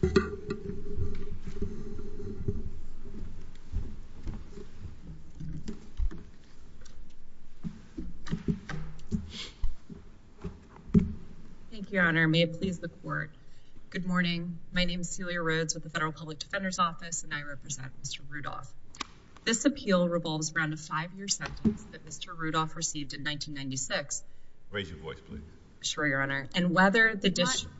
Thank you, Your Honor. May it please the Court. Good morning. My name is Celia Rhoades with the Federal Public Defender's Office, and I represent Mr. Rudolph. This appeal revolves around a five-year sentence that Mr. Rudolph received in 1996. Raise your voice, please. Sure, Your Honor. And whether the district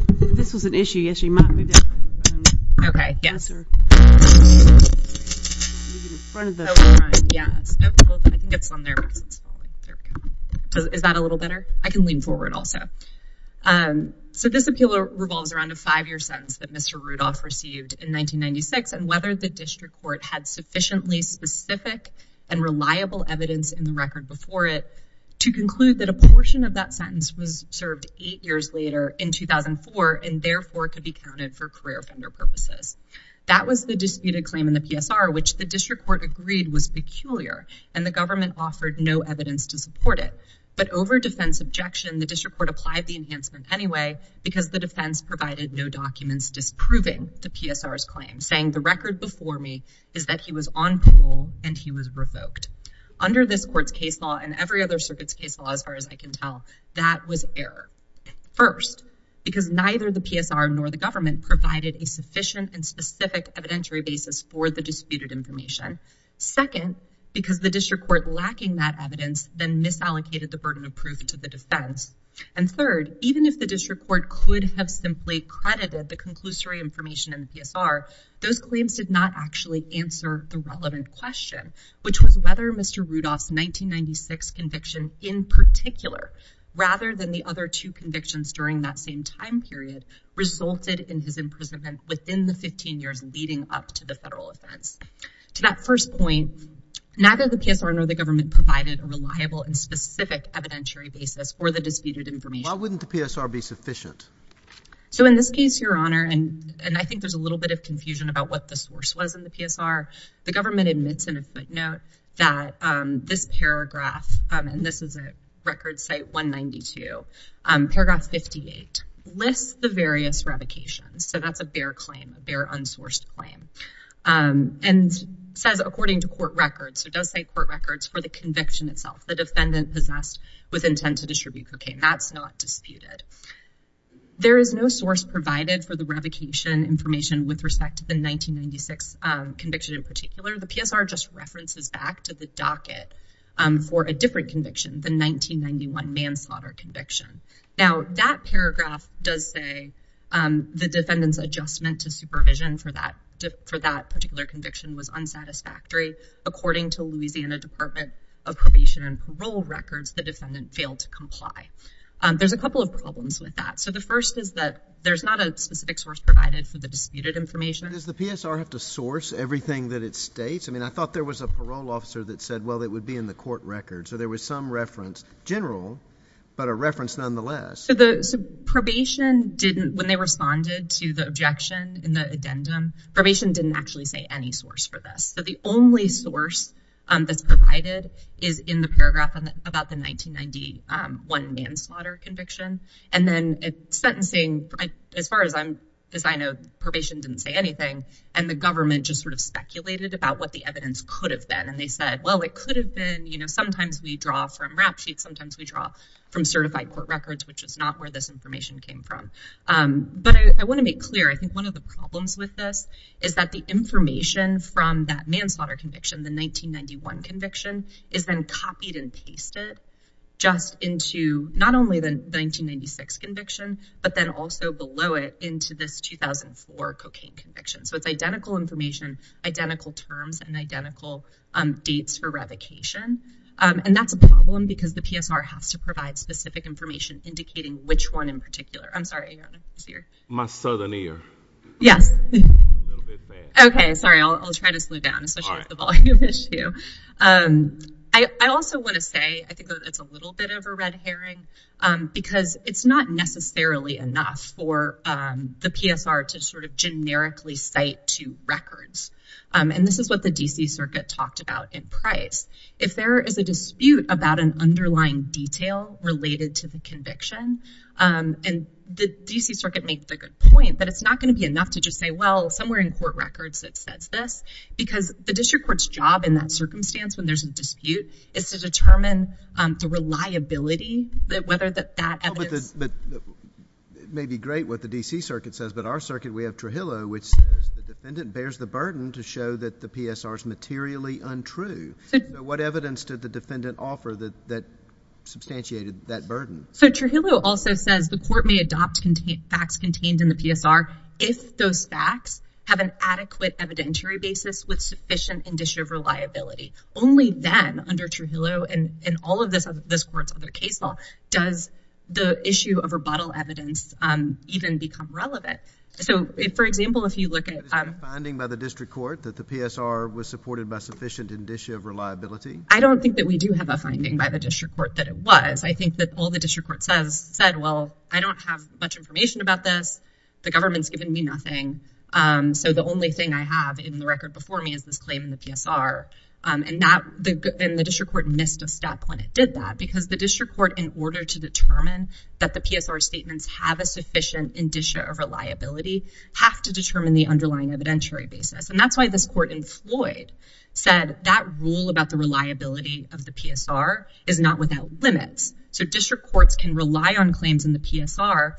court had sufficiently specific and reliable evidence in the record before it to conclude that a portion of that sentence was served eight years later, in 2004, and therefore could be counted for career offender purposes. That was the disputed claim in the PSR, which the district court agreed was peculiar, and the government offered no evidence to support it. But over defense objection, the district court applied the enhancement anyway, because the defense provided no documents disproving the PSR's claim, saying the record before me is that he was on parole and he was revoked. Under this Court's case law and every other circuit's case law, as far as I can tell, that was error. First, because neither the PSR nor the government provided a sufficient and specific evidentiary basis for the disputed information. Second, because the district court lacking that evidence then misallocated the burden of proof to the defense. And third, even if the district court could have simply credited the conclusory information in the PSR, those claims did not actually answer the relevant question, which was whether Mr. Rudolph's 1996 conviction in particular, rather than the other two convictions during that same time period, resulted in his imprisonment within the 15 years leading up to the federal offense. To that first point, neither the PSR nor the government provided a reliable and specific evidentiary basis for the disputed information. Why wouldn't the PSR be sufficient? So in this case, Your Honor, and I think there's a little bit of confusion about what the source was in the PSR. The government admits in a footnote that this paragraph, and this is at Record Site 192, paragraph 58, lists the various revocations. So that's a bare claim, a bare unsourced claim. And says, according to court records, so it does say court records for the conviction itself, the defendant possessed with intent to distribute cocaine. That's not disputed. There is no source provided for the revocation information with respect to the 1996 conviction in particular. The PSR just references back to the docket for a different conviction, the 1991 manslaughter conviction. Now, that paragraph does say the defendant's adjustment to supervision for that particular conviction was unsatisfactory. According to Louisiana Department of Probation and Parole records, the defendant failed to comply. There's a couple of problems with that. So the first is that there's not a specific source provided for the disputed information. Does the PSR have to source everything that it states? I mean, I thought there was a parole officer that said, well, it would be in the court records. So there was some reference, general, but a reference nonetheless. So the probation didn't, when they responded to the objection in the addendum, probation didn't actually say any source for this. So the only source that's provided is in the paragraph about the 1991 manslaughter conviction. And then sentencing, as far as I know, probation didn't say anything. And the government just sort of speculated about what the evidence could have been. And they said, well, it could have been, sometimes we draw from rap sheets, sometimes we draw from certified court records, which is not where this information came from. But I want to make clear, I think one of the problems with this is that the information from that manslaughter conviction, the 1991 conviction, is then copied and pasted just into not only the 1996 conviction, but then also below it into this 2004 cocaine conviction. So it's identical information, identical terms, and identical dates for revocation. And that's a problem because the PSR has to provide specific information indicating which one in particular. I'm sorry. My southern ear. Yes. A little bit bad. Okay. Sorry. I'll try to slow down, especially with the volume issue. I also want to say, I think it's a little bit of a red herring, because it's not necessarily enough for the PSR to sort of generically cite to records. And this is what the DC Circuit talked about in Price. If there is a dispute about an underlying detail related to the conviction, and the DC Circuit makes a good point, but it's not going to be enough to just say, well, somewhere in court records it says this, because the district court's job in that circumstance, when there's a dispute, is to determine the reliability, whether that evidence... But it may be great what the DC Circuit says, but our circuit, we have Trujillo, which says the defendant bears the burden to show that the PSR is materially untrue. What evidence did the defendant offer that substantiated that burden? So, Trujillo also says the court may adopt facts contained in the PSR if those facts have an adequate evidentiary basis with sufficient indicia of reliability. Only then, under Trujillo and all of this court's other case law, does the issue of rebuttal evidence even become relevant. So, for example, if you look at... I don't think that we do have a finding by the district court that it was. I think that all the district court said, well, I don't have much information about this. The government's given me nothing. So, the only thing I have in the record before me is this claim in the PSR. And the district court missed a step when it did that, because the district court, in order to determine that the PSR statements have a sufficient indicia of reliability, have to determine the underlying evidentiary basis. And that's why this court in Floyd said that rule about the reliability of the PSR is not without limits. So, district courts can rely on claims in the PSR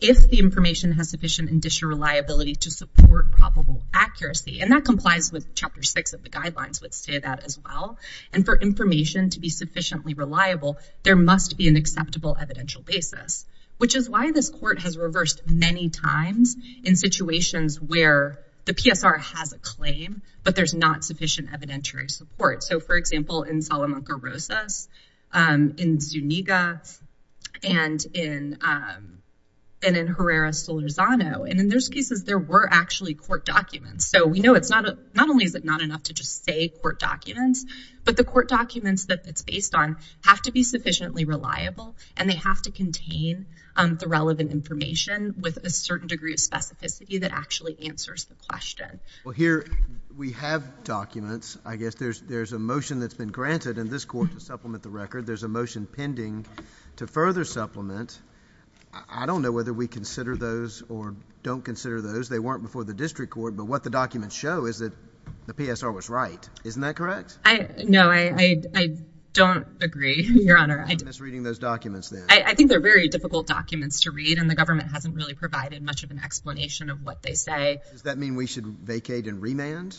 if the information has sufficient indicia of reliability to support probable accuracy. And that complies with Chapter 6 of the guidelines would say that as well. And for information to be sufficiently reliable, there must be an acceptable evidential basis, which is why this court has reversed many times in situations where the PSR has a claim, but there's not sufficient evidentiary support. So, for example, in Salamanca Rosas, in Zuniga, and in Herrera Solorzano. And in those cases, there were actually court documents. So, we know not only is it not enough to just say court documents, but the court documents that it's based on have to be sufficiently reliable, and they have to contain the relevant information with a certain degree of specificity that actually answers the question. Well, here we have documents. I guess there's a motion that's been granted in this court to supplement the record. There's a motion pending to further supplement. I don't know whether we consider those or don't consider those. They weren't before the district court, but what the documents show is that the PSR was right. Isn't that correct? No, I don't agree, Your Honor. I think they're very difficult documents to read, and the government hasn't really provided much of an explanation of what they say. Does that mean we should vacate and remand?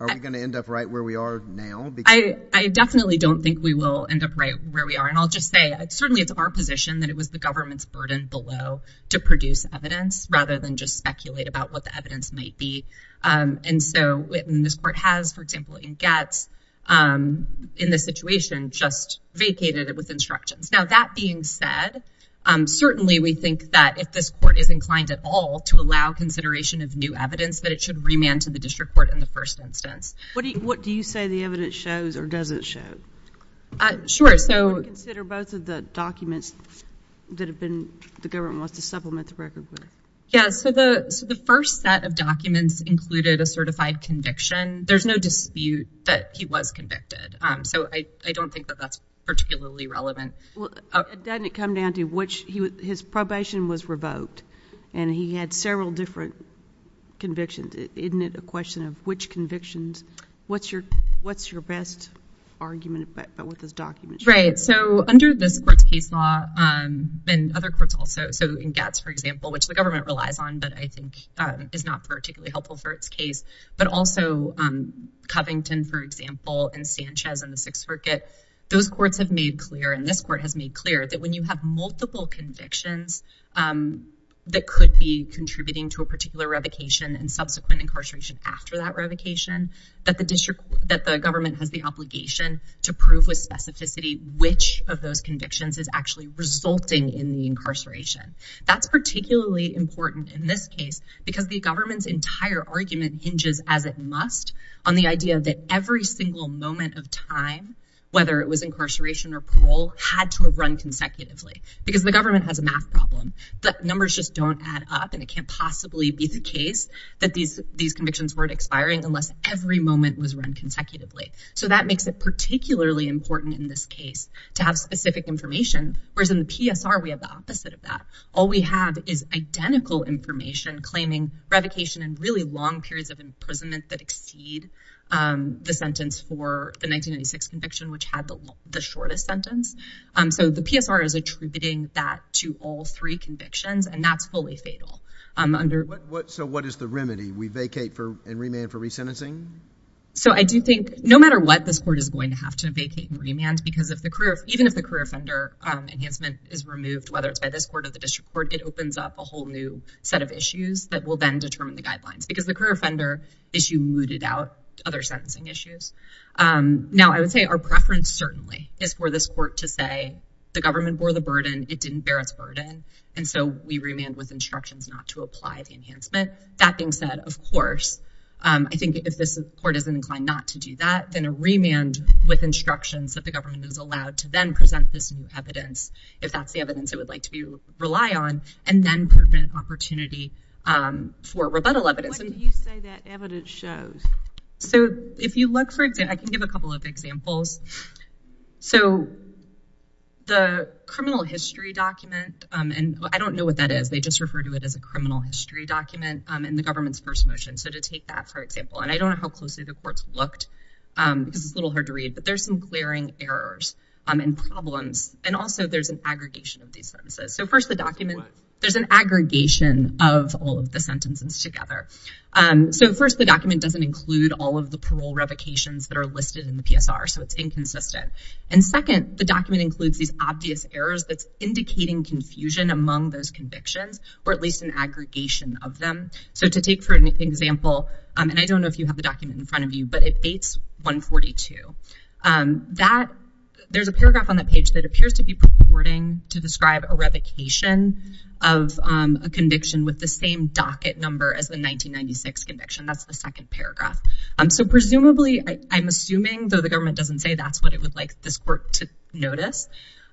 Are we going to end up right where we are now? I definitely don't think we will end up right where we are. And I'll just say, certainly it's our position that it was the government's burden below to produce evidence, rather than just speculate about what the evidence might be. And so, this court has, for example, in Getz, in this situation, just vacated it with instructions. Now, that being said, certainly we think that if this court is inclined at all to allow consideration of new evidence, that it should remand to the district court in the first instance. What do you say the evidence shows or doesn't show? Sure, so... Or consider both of the documents that have been... the government wants to supplement the record there. Yeah, so the first set of documents included a certified conviction. There's no dispute that he was convicted, so I don't think that that's particularly relevant. Well, doesn't it come down to which... his probation was revoked, and he had several different convictions. Isn't it a question of which convictions... what's your best argument about what those documents show? Right, so under this court's case law, and other courts also, so in Getz, for example, which the government relies on, but I think is not particularly helpful for its case, but also Covington, for example, and Sanchez and the Sixth Circuit, those courts have made clear, and this court has made clear, that when you have multiple convictions that could be contributing to a particular revocation and subsequent incarceration after that revocation, that the district... that the government has the obligation to prove with specificity which of in this case, because the government's entire argument hinges, as it must, on the idea that every single moment of time, whether it was incarceration or parole, had to run consecutively, because the government has a math problem. The numbers just don't add up, and it can't possibly be the case that these convictions weren't expiring unless every moment was run consecutively. So that makes it particularly important in this case to have specific information, whereas in the PSR, we have the opposite of that. All we have is identical information claiming revocation and really long periods of imprisonment that exceed the sentence for the 1996 conviction, which had the shortest sentence. So the PSR is attributing that to all three convictions, and that's fully fatal. So what is the remedy? We vacate and remand for resentencing? So I do think, no matter what, this court is going to have to vacate and remand, because even if the career offender enhancement is removed, whether it's by this court or the district court, it opens up a whole new set of issues that will then determine the guidelines, because the career offender issue mooted out other sentencing issues. Now, I would say our preference certainly is for this court to say, the government bore the burden, it didn't bear its burden, and so we remand with instructions not to apply the enhancement. That being said, of course, I think if this court is inclined not to do that, then a remand with instructions that the government is allowed to then present this new evidence, if that's the evidence it would like to rely on, and then prevent opportunity for rebuttal evidence. What did you say that evidence shows? So if you look for example, I can give a couple of examples. So the criminal history document, and I don't know what that is, they just refer to it as a criminal history document in the government's first motion. So to take that for example, and I don't know how closely the and problems, and also there's an aggregation of these sentences. So first the document, there's an aggregation of all of the sentences together. So first the document doesn't include all of the parole revocations that are listed in the PSR, so it's inconsistent. And second, the document includes these obvious errors that's indicating confusion among those convictions, or at least an aggregation of them. So to take for an example, and I don't know if you have the document in front of you, but it dates 142. There's a paragraph on that page that appears to be purporting to describe a revocation of a conviction with the same docket number as the 1996 conviction. That's the second paragraph. So presumably, I'm assuming, though the government doesn't say that's what it would like this court to notice,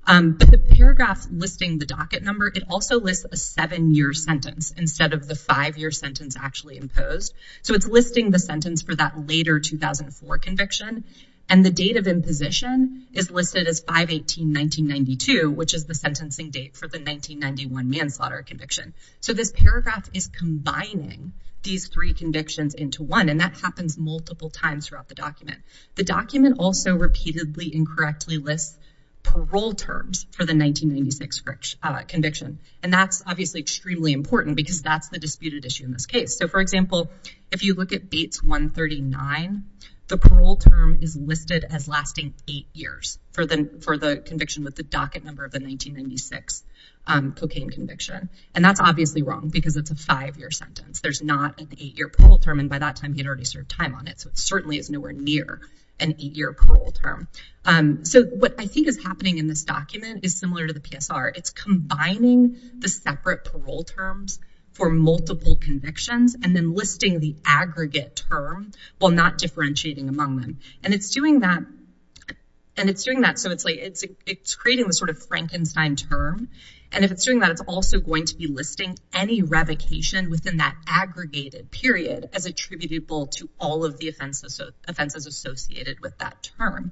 but the paragraph listing the docket number, it also lists a seven-year sentence instead of the five-year sentence actually imposed. So it's listing the sentence for that later 2004 conviction, and the date of imposition is listed as 5-18-1992, which is the sentencing date for the 1991 manslaughter conviction. So this paragraph is combining these three convictions into one, and that happens multiple times throughout the document. The document also repeatedly incorrectly lists parole terms for the 1996 conviction, and that's obviously extremely important because that's the disputed issue in this case. So for example, if you look at Bates 139, the parole term is listed as lasting eight years for the conviction with the docket number of the 1996 cocaine conviction, and that's obviously wrong because it's a five-year sentence. There's not an eight-year parole term, and by that time, he had already served time on it, so it certainly is nowhere near an eight-year parole term. So what I think is happening in this document is similar to the PSR. It's combining the separate parole terms for multiple convictions and then listing the aggregate term while not differentiating among them, and it's doing that. So it's creating this sort of Frankenstein term, and if it's doing that, it's also going to be listing any revocation within that aggregated period as attributable to all of the offenses associated with that term,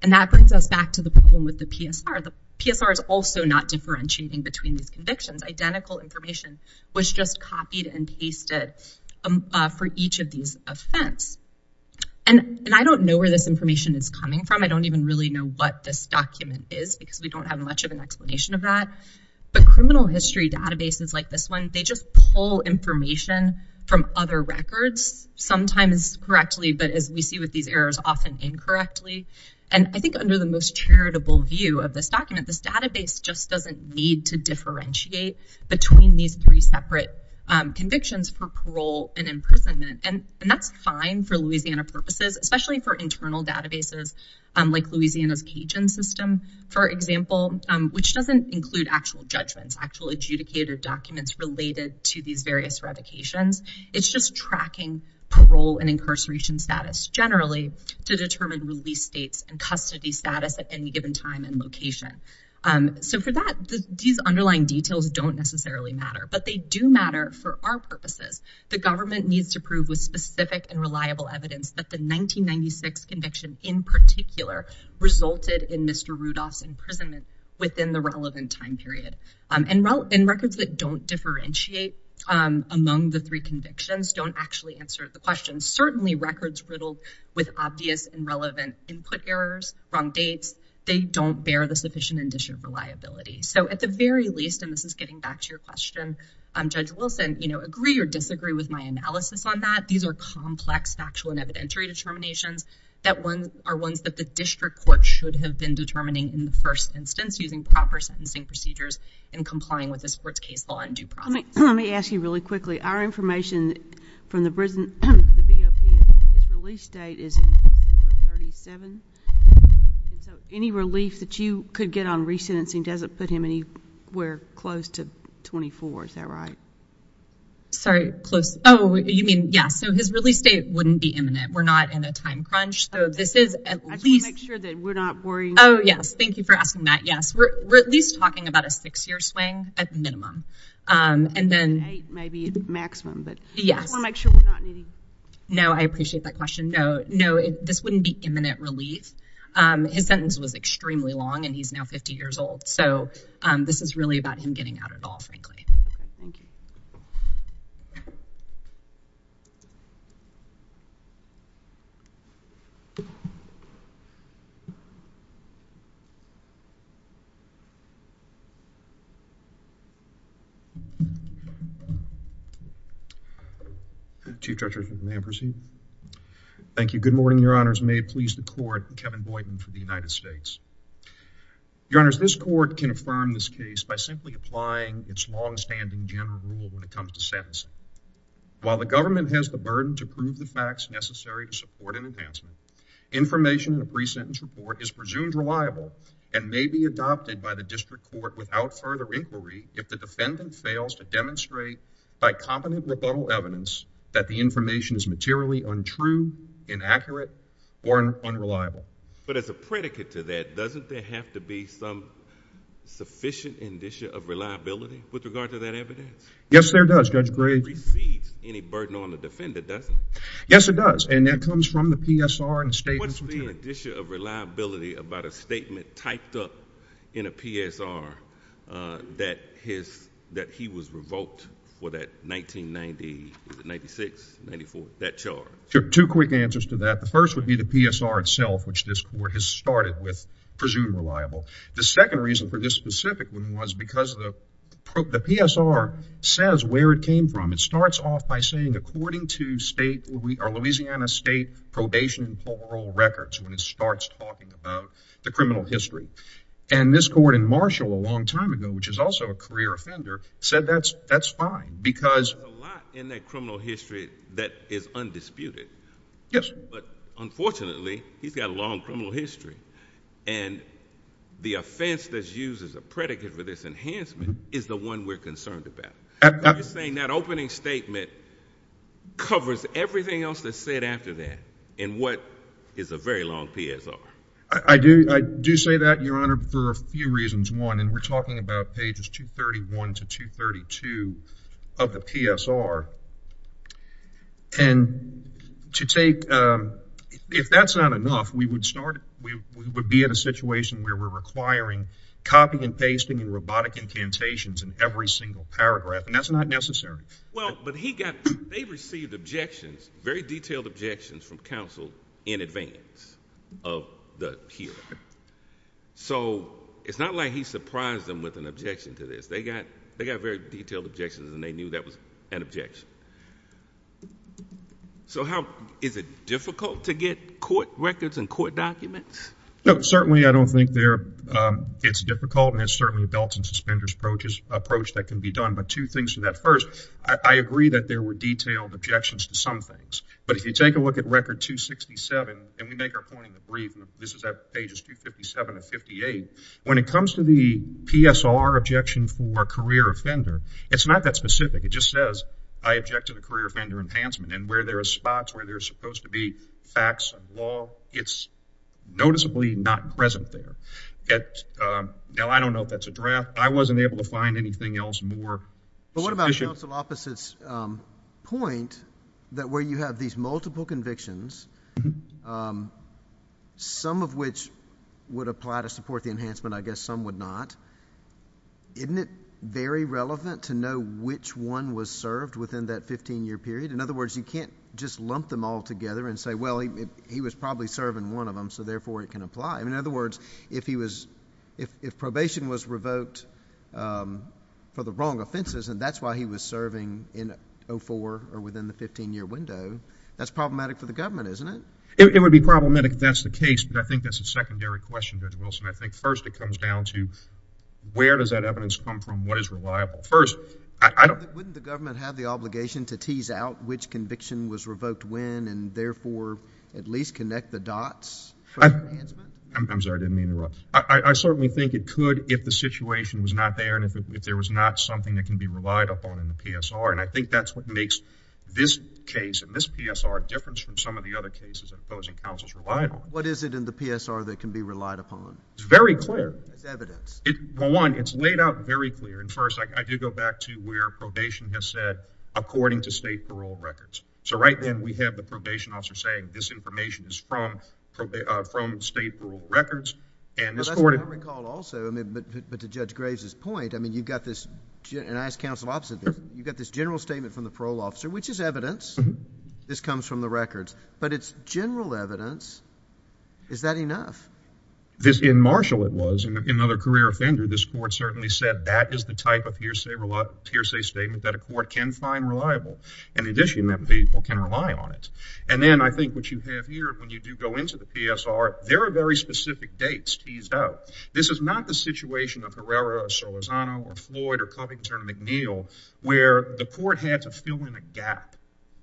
and that brings us back to the problem with the PSR. The PSR is also not differentiating between these convictions. Identical information was just copied and pasted for each of these offense, and I don't know where this information is coming from. I don't even really know what this document is because we don't have much of an explanation of that, but criminal history databases like this one, they just pull information from other records, sometimes correctly, but as we see with these errors, often incorrectly, and I think under the most charitable view of this document, this database just doesn't need to differentiate between these three separate convictions for parole and imprisonment, and that's fine for Louisiana purposes, especially for internal databases like Louisiana's Cajun system, for example, which doesn't include actual judgments, actual adjudicated documents related to these various revocations. It's just tracking parole and incarceration status generally to these underlying details don't necessarily matter, but they do matter for our purposes. The government needs to prove with specific and reliable evidence that the 1996 conviction, in particular, resulted in Mr. Rudolph's imprisonment within the relevant time period, and records that don't differentiate among the three convictions don't actually answer the question. Certainly records riddled with obvious and relevant input errors, wrong dates, they don't bear the sufficient indicia of reliability, so at the very least, and this is getting back to your question, Judge Wilson, you know, agree or disagree with my analysis on that. These are complex factual and evidentiary determinations that are ones that the district court should have been determining in the first instance using proper sentencing procedures and complying with this court's case law in due process. Let me ask you really quickly, our information from the BOP is his release date is in December 37, and so any relief that you could get on resentencing doesn't put him anywhere close to 24, is that right? Sorry, close, oh, you mean, yeah, so his release date wouldn't be imminent. We're not in a time crunch, so this is at least- I just want to make sure that we're not worrying- Oh, yes, thank you for asking that, yes. We're at least talking about a six-year swing at minimum, and then- Eight, maybe maximum, but I just want to make sure we're not needing- No, I appreciate that question. No, this wouldn't be imminent relief. His sentence was extremely long, and he's now 50 years old, so this is really about him getting out at all, so. Chief Judge Richardson, may I proceed? Thank you. Good morning, your honors. May it please the court, Kevin Boyden for the United States. Your honors, this court can affirm this case by simply applying its longstanding general rule when it comes to sentencing. While the government has the burden to prove the facts necessary to support an enhancement, information in a pre-sentence report is presumed reliable and may be adopted by the district court without further inquiry if the defendant fails to demonstrate by competent rebuttal evidence that the information is materially untrue, inaccurate, or unreliable. But as a predicate to that, doesn't there have to be some sufficient indicia of reliability with regard to that evidence? Yes, there does, Judge Gray. It doesn't recede any burden on the defender, does it? Yes, it does, and that comes from the PSR and the state consultant. An indicia of reliability about a statement typed up in a PSR that he was revoked for that 1996, 94, that charge? Sure. Two quick answers to that. The first would be the PSR itself, which this court has started with, presumed reliable. The second reason for this specifically was because the PSR says where it came from. It starts off by saying, are Louisiana state probation and parole records when it starts talking about the criminal history? And this court in Marshall a long time ago, which is also a career offender, said that's fine because... There's a lot in that criminal history that is undisputed. Yes. But unfortunately, he's got a long criminal history, and the offense that's used as a predicate for this enhancement is the one we're concerned about. You're saying that opening statement covers everything else that's said after that in what is a very long PSR. I do say that, Your Honor, for a few reasons. One, and we're talking about pages 231 to 232 of the PSR. And to take... If that's not enough, we would be in a situation where we're requiring copying and pasting and robotic incantations in every single paragraph, and that's not necessary. Well, but he got... They received objections, very detailed objections from counsel in advance of the hearing. So it's not like he surprised them with an objection to this. They got very detailed objections, and they knew that was an objection. So how... Is it difficult to get court records and court documents? No, certainly I don't think it's difficult, and it's certainly a belts and suspenders approach that can be done, but two things to that. First, I agree that there were detailed objections to some things, but if you take a look at Record 267, and we make our point in the brief, this is at pages 257 to 258, when it comes to the PSR objection for career offender, it's not that specific. It just says, I object to the career offender enhancement, and where there are spots where there's supposed to be facts and law, it's noticeably not present there. Now, I don't know if that's a draft. I wasn't able to find anything else more sufficient. But what about counsel's point that where you have these multiple convictions, some of which would apply to support the enhancement, I guess some would not, isn't it very relevant to know which one was served within that 15-year period? In other words, you can't just lump them all together and say, well, he was probably serving one of them, so therefore it can apply. In other words, if probation was revoked for the wrong offenses, and that's why he was serving in 04 or within the 15-year window, that's problematic for the government, isn't it? It would be problematic if that's the case, but I think that's a secondary question, Judge Wilson. I think first it comes down to where does that evidence come from, what is reliable? First, I don't... Wouldn't the government have the obligation to tease out which conviction was revoked when and therefore at least connect the dots? I'm sorry, I didn't mean to interrupt. I certainly think it could if the situation was not there and if there was not something that can be relied upon in the PSR, and I think that's what makes this case and this PSR different from some of the other cases that opposing counsels relied on. What is it in the PSR that can be relied upon? It's very clear. It's evidence. Well, one, it's laid out very clear, and first, I do go back to where probation has said according to state parole records, so right then we have the probation officer saying this information is from state parole records, and this court... I recall also, I mean, but to Judge Graves's point, I mean, you've got this, and I ask counsel opposite, you've got this general statement from the parole officer, which is evidence. This comes from the records, but it's general evidence. Is that enough? This, in Marshall it was, in another career offender, this court certainly said that is the type of hearsay statement that a court can find reliable, in addition that people can rely on it, and then I think what you have here when you do go into the PSR, there are very specific dates teased out. This is not the situation of Herrera, Sorlazano, or Floyd, or Covington, or McNeil, where the court had to fill in a gap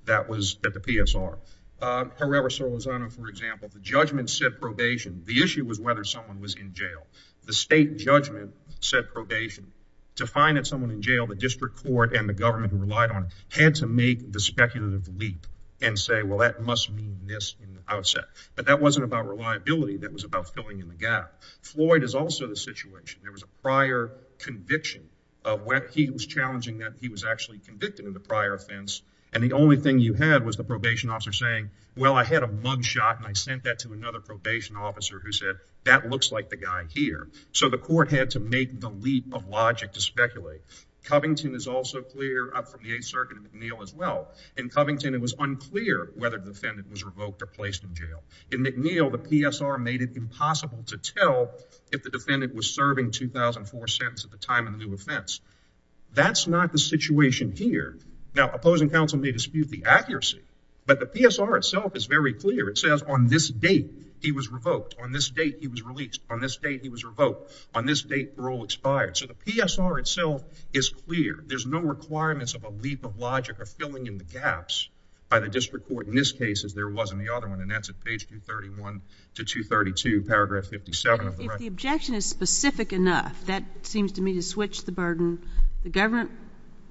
that was at the PSR. Herrera, Sorlazano, for example, the judgment said probation. The issue was whether someone was in jail. The state judgment said probation. To find that someone in jail, the district court and the government who relied on it had to make the speculative leap and say, well, that must mean this in the outset, but that wasn't about reliability. That was about filling in the gap. Floyd is also the situation. There was a prior conviction of when he was challenging that he was actually convicted of the prior offense, and the only thing you had was the probation officer saying, well, I had a mug shot, and I sent that to another probation officer who said, that looks like the guy here, so the court had to make the leap of logic to speculate. Covington is also clear up from the 8th Circuit and McNeil as well. In Covington, it was unclear whether the defendant was revoked or placed in jail. In McNeil, the PSR made it impossible to tell if the defendant was serving 2004 sentence at the time of the new offense. That's not the PSR itself is very clear. It says on this date, he was revoked. On this date, he was released. On this date, he was revoked. On this date, parole expired. So the PSR itself is clear. There's no requirements of a leap of logic or filling in the gaps by the district court. In this case, as there was in the other one, and that's at page 231 to 232, paragraph 57 of the record. If the objection is specific enough, that seems to me to switch the burden. The government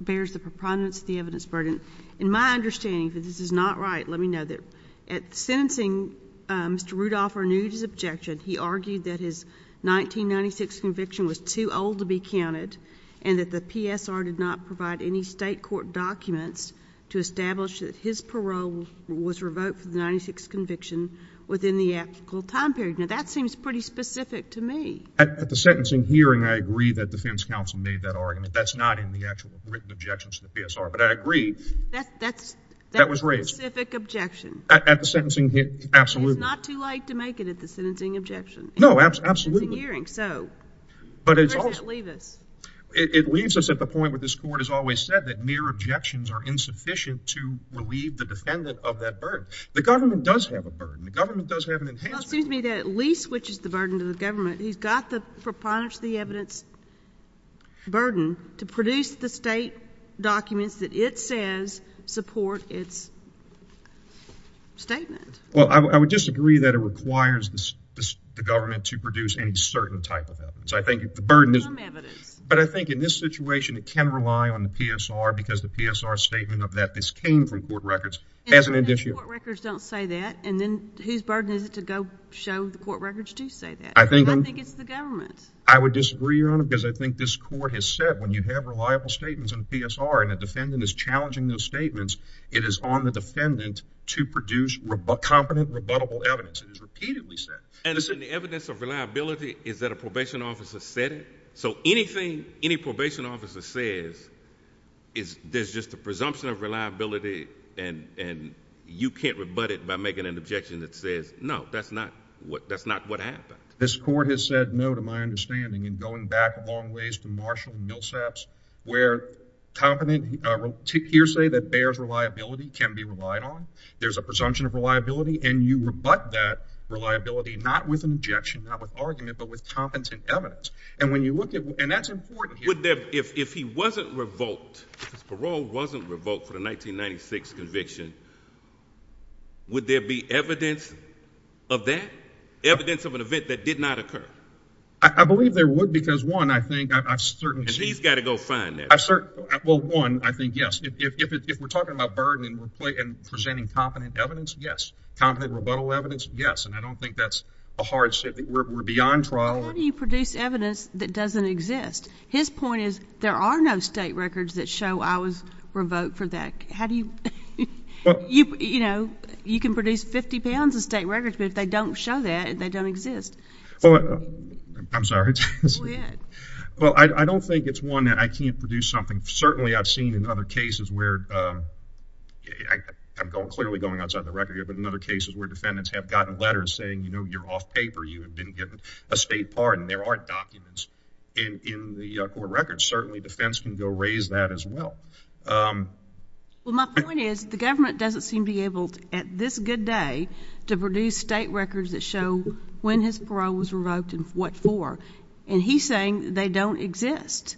bears the prominence of the evidence burden. In my understanding, if this is not right, let me know. At sentencing, Mr. Rudolph renewed his objection. He argued that his 1996 conviction was too old to be counted and that the PSR did not provide any state court documents to establish that his parole was revoked for the 1996 conviction within the applicable time period. Now, that seems pretty specific to me. At the sentencing hearing, I agree that defense counsel made that argument. That's not in the actual written objections to the PSR, but I agree. That was raised. That specific objection. At the sentencing hearing, absolutely. It's not too late to make it at the sentencing objection. No, absolutely. At the sentencing hearing. So where does that leave us? It leaves us at the point where this court has always said that mere objections are insufficient to relieve the defendant of that burden. The government does have a burden. The government does have an enhancement burden. Well, it seems to me that Lee switches the burden to the government. He's got the proponents of the evidence burden to produce the state documents that it says support its statement. Well, I would disagree that it requires the government to produce any certain type of evidence. I think the burden is but I think in this situation, it can rely on the PSR because the PSR statement of that this came from court records as an addition. Court records don't say that and then whose burden is it to go show the court records to say that? I think it's the government. I would disagree, Your Honor, because I think this court has said when you have reliable statements in the PSR and a defendant is challenging those statements, it is on the defendant to produce competent, rebuttable evidence. It is repeatedly said. And the evidence of reliability is that a probation officer said it. So anything any probation officer says is there's just a presumption of reliability and you can't rebut it by making an objection that says, no, that's not what that's not what happened. This court has said no to my understanding and going back a long ways to Marshall and Millsaps where competent hearsay that bears reliability can be relied on. There's a presumption of reliability and you rebut that reliability not with an objection, not with argument, but with competent evidence. And when you look at and that's important. Would there, if he wasn't revoked, his parole wasn't revoked for the 1996 conviction, would there be evidence of that? Evidence of an event that did not occur? I believe there would, because one, I think I've certainly got to go find that. Well, one, I think yes. If we're talking about burden and presenting competent evidence, yes. Competent rebuttal evidence, yes. And I don't think that's a hardship that we're beyond trial. How do you produce evidence that doesn't exist? His point is there are no state records that show I was revoked for that. How do you, you know, you can produce 50 pounds of state records, but if they don't show that, they don't exist. Well, I'm sorry. Well, I don't think it's one that I can't produce something. Certainly I've seen in other cases where, I'm clearly going outside the record here, but in other cases where defendants have gotten letters saying, you know, you're off paper, you have been given a state pardon, there are documents in the court records. Certainly defense can go raise that as well. Well, my point is the government doesn't seem to be able to, at this good day, to produce state records that show when his parole was revoked and what for. And he's saying they don't exist.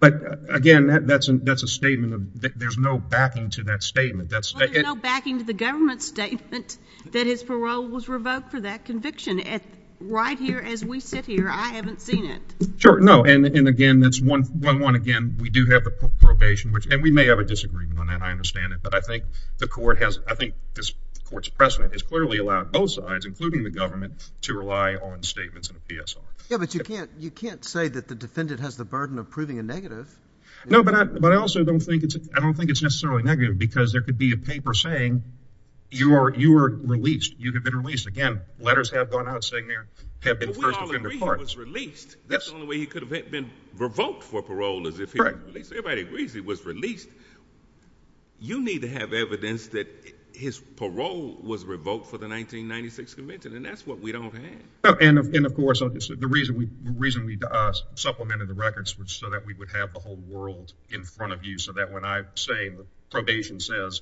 But again, that's a statement of, there's no backing to that statement. Well, there's no backing to the government's statement that his parole was revoked for conviction. Right here as we sit here, I haven't seen it. Sure. No. And again, that's one, one, one again, we do have the probation, which, and we may have a disagreement on that. I understand it. But I think the court has, I think this court's precedent is clearly allowed both sides, including the government, to rely on statements of PSR. Yeah, but you can't, you can't say that the defendant has the burden of proving a negative. No, but I, but I also don't think it's, I don't think it's necessarily negative because there could be a paper saying you are, you were released. You could have been released. Again, letters have gone out saying there have been first offender parts. But we all agree he was released. That's the only way he could have been revoked for parole is if he was released. Everybody agrees he was released. You need to have evidence that his parole was revoked for the 1996 convention. And that's what we don't have. And of course, the reason we, the reason we supplemented the records was so that we would have the whole world in front of you. So that when I say the probation says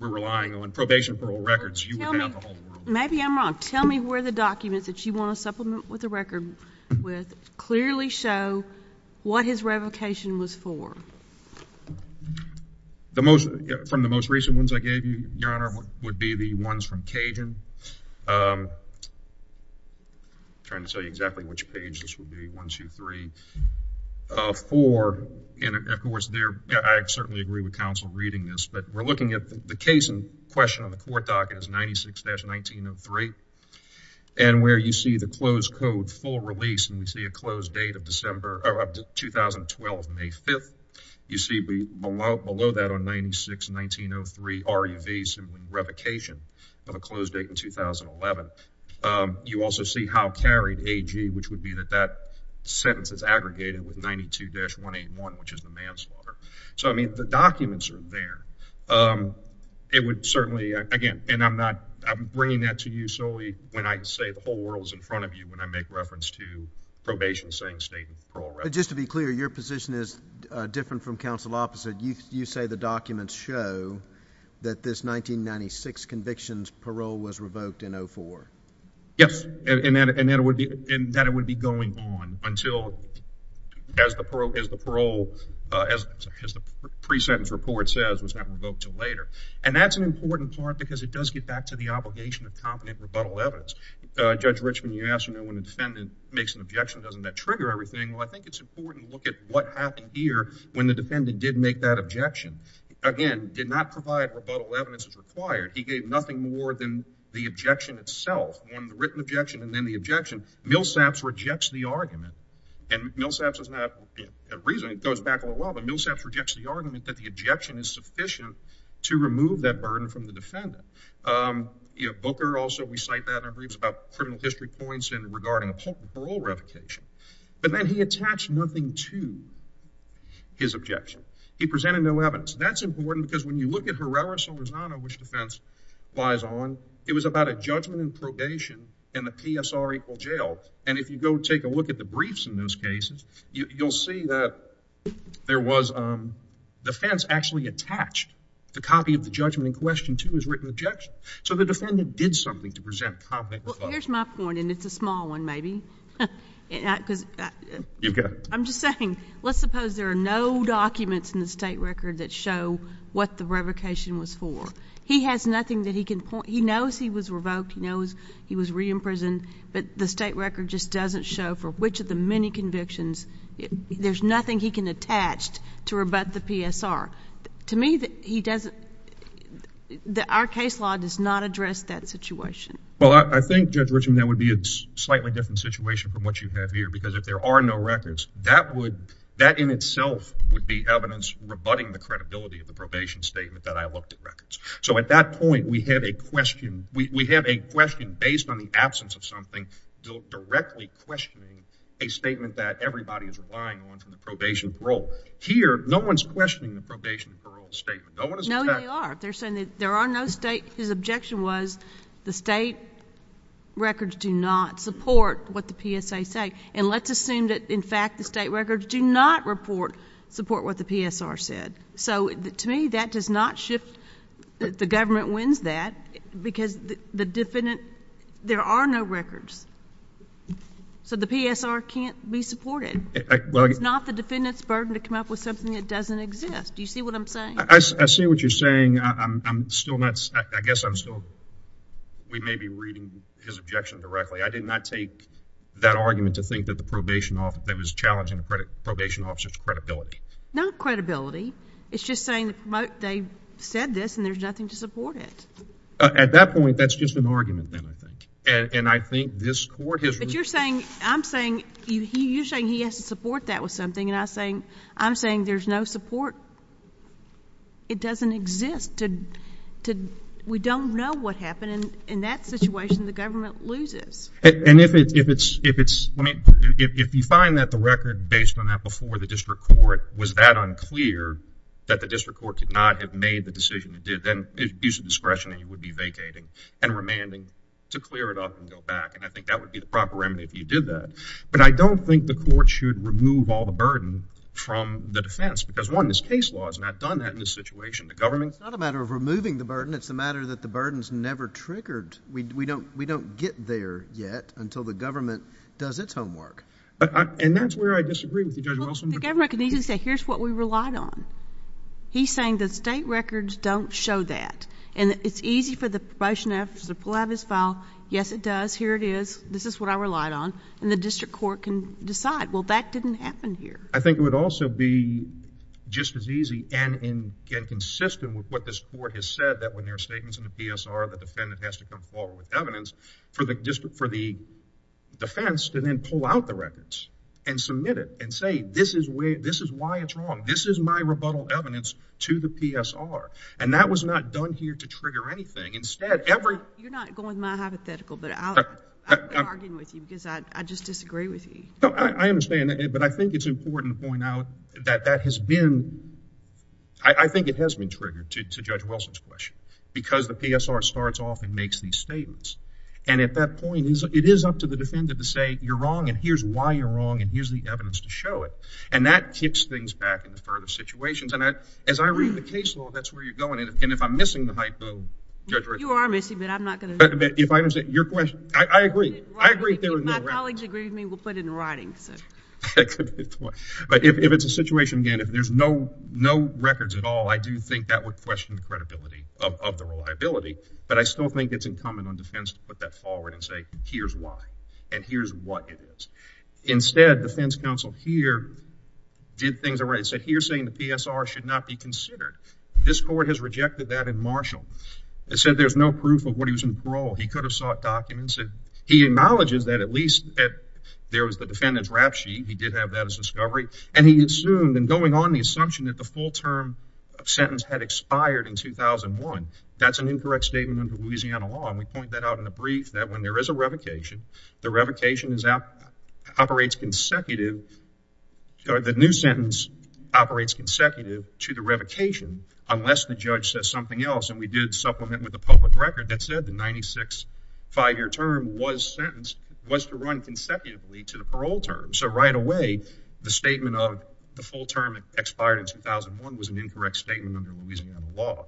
we're relying on probation for all records, you would have the whole world. Maybe I'm wrong. Tell me where the documents that you want to supplement with the record with clearly show what his revocation was for. The most, from the most recent ones I gave you, Your Honor, would be the ones from Cajun. I'm trying to tell you exactly which page this would be. One, two, three, four. And of course, there, I certainly agree with counsel reading this, but we're looking at the case in question on the court docket is 96-1903. And where you see the closed code, full release, and we see a closed date of December, of 2012, May 5th. You see below that on 96-1903, RUV, simply revocation of a closed date in 2011. You also see how carried, AG, which would be that sentence that's aggregated with 92-181, which is the manslaughter. So, I mean, the documents are there. It would certainly, again, and I'm not, I'm bringing that to you solely when I say the whole world is in front of you when I make reference to probation saying state and parole records. But just to be clear, your position is different from counsel opposite. You say the documents show that this 1996 conviction's parole was revoked in 04. Yes, and that it would be going on until, as the parole, as the pre-sentence report says, was not revoked until later. And that's an important part because it does get back to the obligation of competent rebuttal evidence. Judge Richman, you asked, you know, when the defendant makes an objection, doesn't that trigger everything? Well, I think it's important to look at what happened here when the defendant did make that objection. Again, did not provide rebuttal evidence as required. He gave nothing more than the objection itself, one written objection and then the objection. Millsaps rejects the argument and Millsaps is not a reason, it goes back a little while, but Millsaps rejects the argument that the objection is sufficient to remove that burden from the defendant. You know, Booker also, we cite that in our briefs about criminal history points and regarding a potent parole revocation. But then he attached nothing to his objection. He presented no evidence. That's important because when you look at Herrera-Silverzano, which defense lies on, it was about a judgment in probation and the PSR equal jail. And if you go take a look at the briefs in those cases, you'll see that there was, the fence actually attached the copy of the judgment in question to his written objection. So the defendant did something to present comment. Well, here's my point and it's a small one, maybe. I'm just saying, let's suppose there are no documents in the state record that show what the revocation was for. He has nothing that he can point, he knows he was revoked, he knows he was re-imprisoned, but the state record just doesn't show for which of the many convictions, there's nothing he can attach to rebut the PSR. To me, he doesn't, our case law does not address that situation. Well, I think Judge Richman, that would be a slightly different situation from what you have here because if there are no records, that would, that in itself would be evidence rebutting the credibility of the probation statement that I question, we have a question based on the absence of something directly questioning a statement that everybody is relying on from the probation parole. Here, no one's questioning the probation parole statement. No one is attached. No, they are. They're saying that there are no state, his objection was the state records do not support what the PSA say and let's assume that in fact, the state records do not report, support what the PSR said. So to me, that does not shift that the government wins that because the defendant, there are no records. So the PSR can't be supported. It's not the defendant's burden to come up with something that doesn't exist. Do you see what I'm saying? I see what you're saying. I'm still not, I guess I'm still, we may be reading his objection directly. I did not take that argument to think that the probation officer that was challenging the probation officer's credibility. Not credibility. It's just saying that they said this and there's nothing to support it. At that point, that's just an argument then, I think. And I think this court has. But you're saying, I'm saying, you're saying he has to support that with something and I'm saying, I'm saying there's no support. It doesn't exist to, we don't know what happened. And in that situation, the government loses. And if it's, if it's, if you find that the record based on that before the district court was that unclear that the district court could not have made the decision to do it, then it's a use of discretion and you would be vacating and remanding to clear it up and go back. And I think that would be the proper remedy if you did that. But I don't think the court should remove all the burden from the defense because one, this case law has not done that in this situation. The government. It's not a matter of removing the burden. It's a matter that the burden's never triggered. We don't, we don't get there yet until the government does its homework. And that's where I disagree with you, Judge Wilson. The government can easily say, here's what we relied on. He's saying the state records don't show that. And it's easy for the promotion efforts to pull out his file. Yes, it does. Here it is. This is what I relied on. And the district court can decide, well, that didn't happen here. I think it would also be just as easy and consistent with what this court has said, that when there are statements in the defense, to then pull out the records and submit it and say, this is where, this is why it's wrong. This is my rebuttal evidence to the PSR. And that was not done here to trigger anything. Instead, every. You're not going my hypothetical, but I'll be arguing with you because I just disagree with you. No, I understand. But I think it's important to point out that that has been, I think it has been triggered to Judge Wilson's question because the PSR starts off and makes these statements. And at that point, it is up to the defendant to say, you're wrong, and here's why you're wrong, and here's the evidence to show it. And that kicks things back into further situations. And as I read the case law, that's where you're going. And if I'm missing the hypo, Judge Rick. You are missing, but I'm not going to. But if I understand your question, I agree. I agree there was no records. My colleagues agree with me, we'll put it in writing. But if it's a situation, again, if there's no records at all, I do think that would question credibility of the reliability. But I still think it's incumbent on defense to put that forward and say, here's why. And here's what it is. Instead, defense counsel here did things the right way. He said, here's saying the PSR should not be considered. This court has rejected that in Marshall. It said there's no proof of what he was in parole. He could have sought documents. He acknowledges that at least there was the defendant's rap sheet. He did have that as discovery. And he assumed and going on the assumption that the full term sentence had expired in 2001. That's an incorrect statement under Louisiana law. And we point that out in a brief that when there is a revocation, the revocation operates consecutive, the new sentence operates consecutive to the revocation, unless the judge says something else. And we did supplement with a public record that said the 96 five-year term was sentenced, was to run consecutively to the parole term. So right away, the statement of the full term expired in 2001 was an incorrect statement under Louisiana law.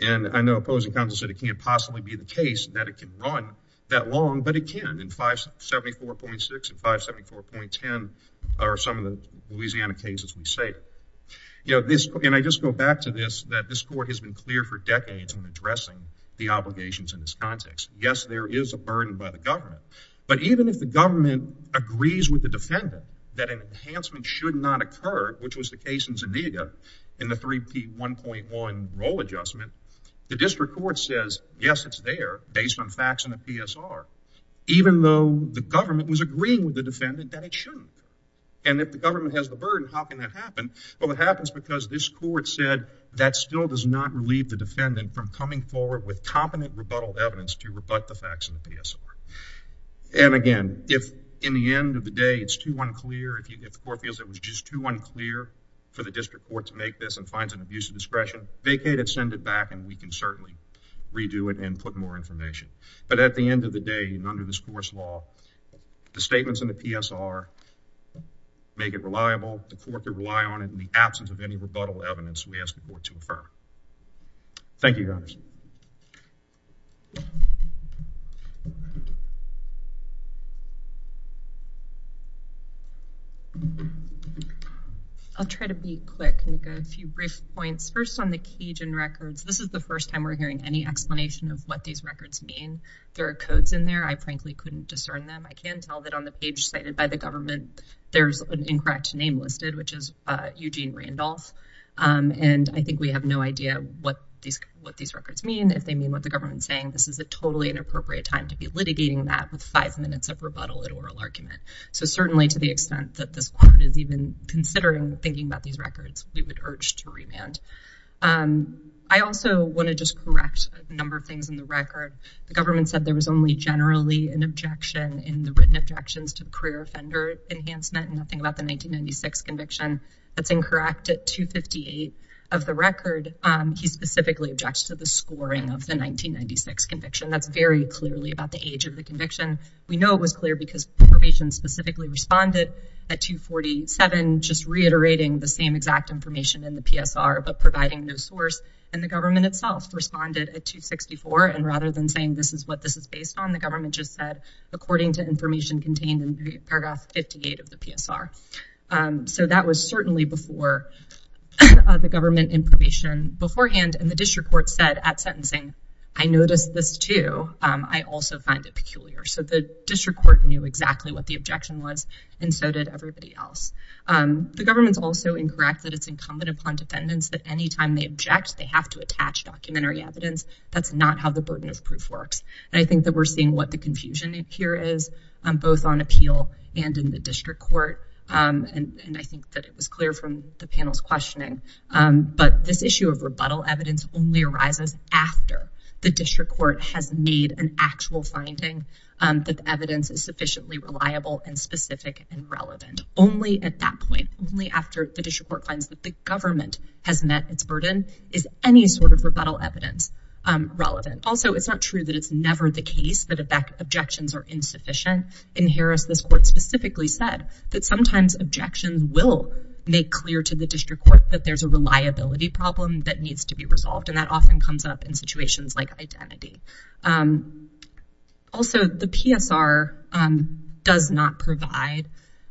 And I know opposing counsel said it can't possibly be the case that it can run that long, but it can. And 574.6 and 574.10 are some of the Louisiana cases we say. You know, this, and I just go back to this, that this court has been clear for decades in addressing the obligations in this context. Yes, there is a burden by the government. But even if the government agrees with the defendant that an enhancement should not occur, which was the case in Zuniga in the 3P1.1 role adjustment, the district court says, yes, it's there based on facts in the PSR, even though the government was agreeing with the defendant that it shouldn't. And if the government has the burden, how can that happen? Well, it happens because this court said that still does not relieve the defendant from coming forward with competent rebuttal evidence to rebut the facts in the PSR. And again, if in the end of the day, it's too unclear, if the court feels it was just too unclear for the district court to make this and finds an abuse of discretion, vacate it, send it back, and we can certainly redo it and put more information. But at the end of the day, and under this court's law, the statements in the PSR make it reliable. The court could rely on it in the absence of any rebuttal evidence we ask the district court to provide. I'll try to be quick, make a few brief points. First on the Cajun records, this is the first time we're hearing any explanation of what these records mean. There are codes in there, I frankly couldn't discern them. I can tell that on the page cited by the government, there's an incorrect name listed, which is Eugene Randolph. And I think we have no idea what these records mean, if they mean what the government's saying. This is a totally inappropriate time to be litigating that with five minutes of rebuttal and oral argument. So certainly to the extent that this court is even considering thinking about these records, we would urge to remand. I also want to just correct a number of things in the record. The government said there was only generally an objection in the written objections to the career offender enhancement, nothing about the 1996 conviction. That's incorrect at 258 of the record. He specifically objects to the scoring of the 1996 conviction. That's very clearly about the age of the conviction. We know it was clear because probation specifically responded at 247, just reiterating the same exact information in the PSR, but providing no source. And the government itself responded at 264. And rather than saying this is what this is based on, the government just said, according to information contained in paragraph 58 of the PSR. So that was certainly before the government information beforehand. And the district court said at sentencing, I noticed this too. I also find it peculiar. So the district court knew exactly what the objection was, and so did everybody else. The government's also incorrect that it's incumbent upon defendants that anytime they object, they have to attach documentary evidence. That's not how the burden of proof works. And I think that we're seeing what the and I think that it was clear from the panel's questioning. But this issue of rebuttal evidence only arises after the district court has made an actual finding that the evidence is sufficiently reliable and specific and relevant. Only at that point, only after the district court finds that the government has met its burden is any sort of rebuttal evidence relevant. Also, it's not true that it's never the case that objections are insufficient. In Harris, this court specifically said that sometimes objections will make clear to the district court that there's a reliability problem that needs to be resolved. And that often comes up in situations like identity. Also, the PSR does not provide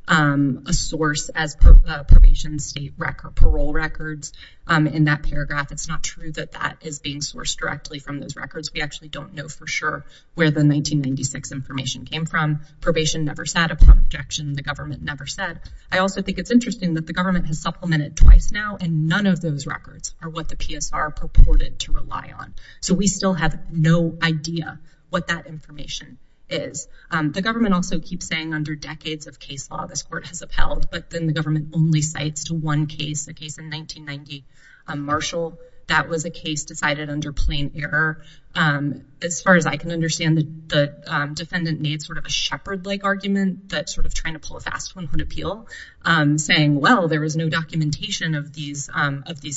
a source as probation state record parole records. In that paragraph, it's not true that that is being sourced directly from those records. We actually don't know for sure where the 1996 information came from. Probation never sat objection. The government never said. I also think it's interesting that the government has supplemented twice now and none of those records are what the PSR purported to rely on. So we still have no idea what that information is. The government also keeps saying under decades of case law, this court has upheld. But then the government only cites to one case, a case in 1990, Marshall. That was a case decided under plain error. As far as I can understand, the defendant sort of a shepherd like argument that sort of trying to pull a fast one would appeal saying, well, there was no documentation of these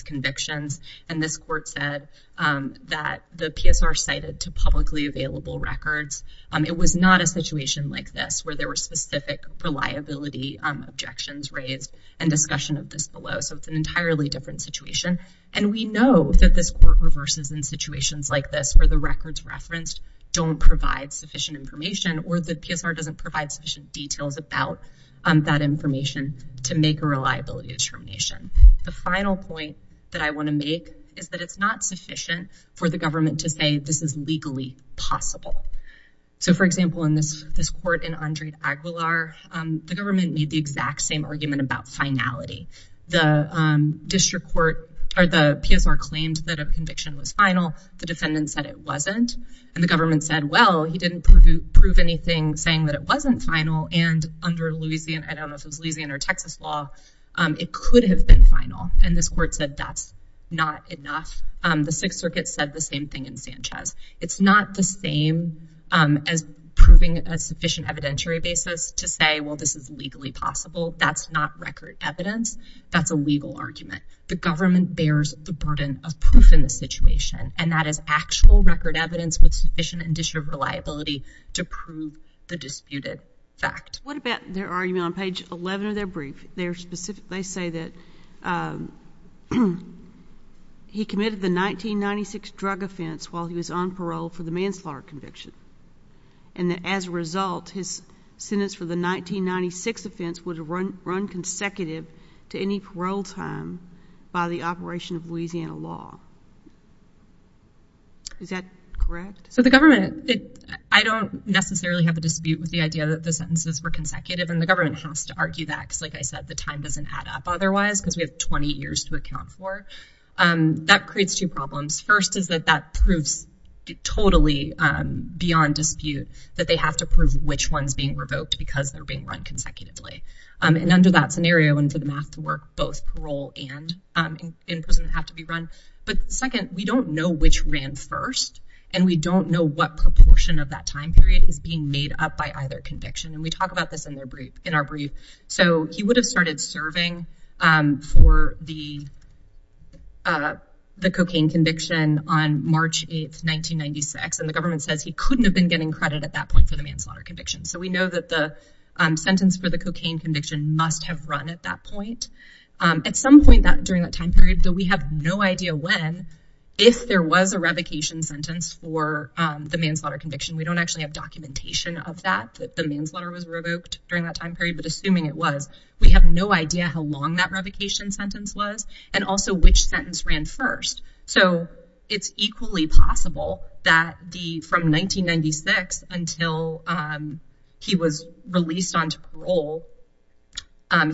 convictions. And this court said that the PSR cited to publicly available records. It was not a situation like this where there were specific reliability objections raised and discussion of this below. So it's an entirely different situation. And we know that this court reverses in situations like this where the records referenced don't provide sufficient information or the PSR doesn't provide sufficient details about that information to make a reliability determination. The final point that I want to make is that it's not sufficient for the government to say this is legally possible. So, for example, in this this court in Andre Aguilar, the government made the exact same argument about finality. The district court or the PSR claimed that a conviction was final. The defendant said it wasn't. And the government said, well, he didn't prove anything saying that it wasn't final. And under Louisiana, I don't know if it's Louisiana or Texas law, it could have been final. And this court said that's not enough. The Sixth Circuit said the same thing in Sanchez. It's not the same as proving a sufficient evidentiary basis to say, well, this is legally possible. That's not record evidence. That's a legal argument. The government bears the burden of proof in the situation, and that is actual record evidence with sufficient and disproved reliability to prove the disputed fact. What about their argument on page 11 of their brief? They specifically say that he committed the 1996 drug offense while he was on parole for the manslaughter conviction. And as a result, his by the operation of Louisiana law. Is that correct? So the government, I don't necessarily have a dispute with the idea that the sentences were consecutive, and the government has to argue that because, like I said, the time doesn't add up otherwise because we have 20 years to account for. That creates two problems. First is that that proves totally beyond dispute that they have to prove which one's being revoked because they're being run consecutively. And under that scenario, and for the math to work, both parole and in prison have to be run. But second, we don't know which ran first, and we don't know what proportion of that time period is being made up by either conviction. And we talk about this in our brief. So he would have started serving for the cocaine conviction on March 8th, 1996, and the government says he couldn't have been getting credit at that point for the manslaughter conviction. So we know that the sentence for the cocaine conviction must have run at that point. At some point during that time period, though, we have no idea when, if there was a revocation sentence for the manslaughter conviction. We don't actually have documentation of that, that the manslaughter was revoked during that time period, but assuming it was, we have no idea how long that revocation sentence was and also which sentence ran first. So it's equally possible that from 1996 until he was released onto parole,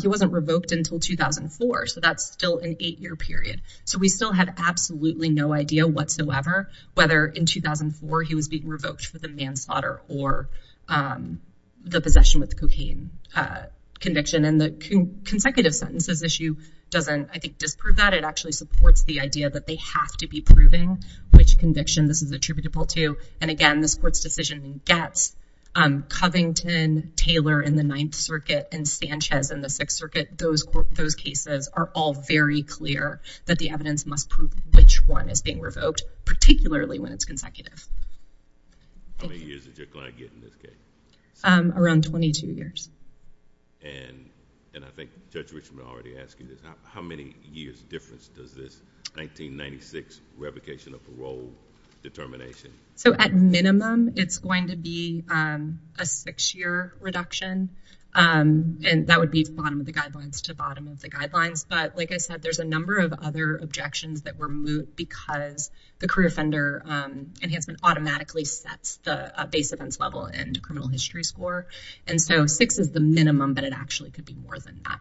he wasn't revoked until 2004. So that's still an eight-year period. So we still have absolutely no idea whatsoever whether in 2004 he was being revoked for the manslaughter or the possession with cocaine conviction. And the consecutive sentences issue doesn't, I think, supports the idea that they have to be proving which conviction this is attributable to. And again, this court's decision gets Covington, Taylor in the Ninth Circuit, and Sanchez in the Sixth Circuit. Those cases are all very clear that the evidence must prove which one is being revoked, particularly when it's consecutive. How many years did Judge Glenn get in this case? Around 22 years. And I think Judge Richmond already asked you this. How many years difference does this 1996 revocation of parole determination? So at minimum, it's going to be a six-year reduction. And that would be bottom of the guidelines to bottom of the guidelines. But like I said, there's a number of other objections that were moved because the career offender enhancement automatically sets the base events level and criminal history score. And so six is the minimum, but it actually could be more than that.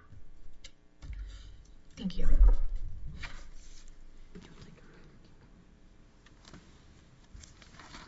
Thank you.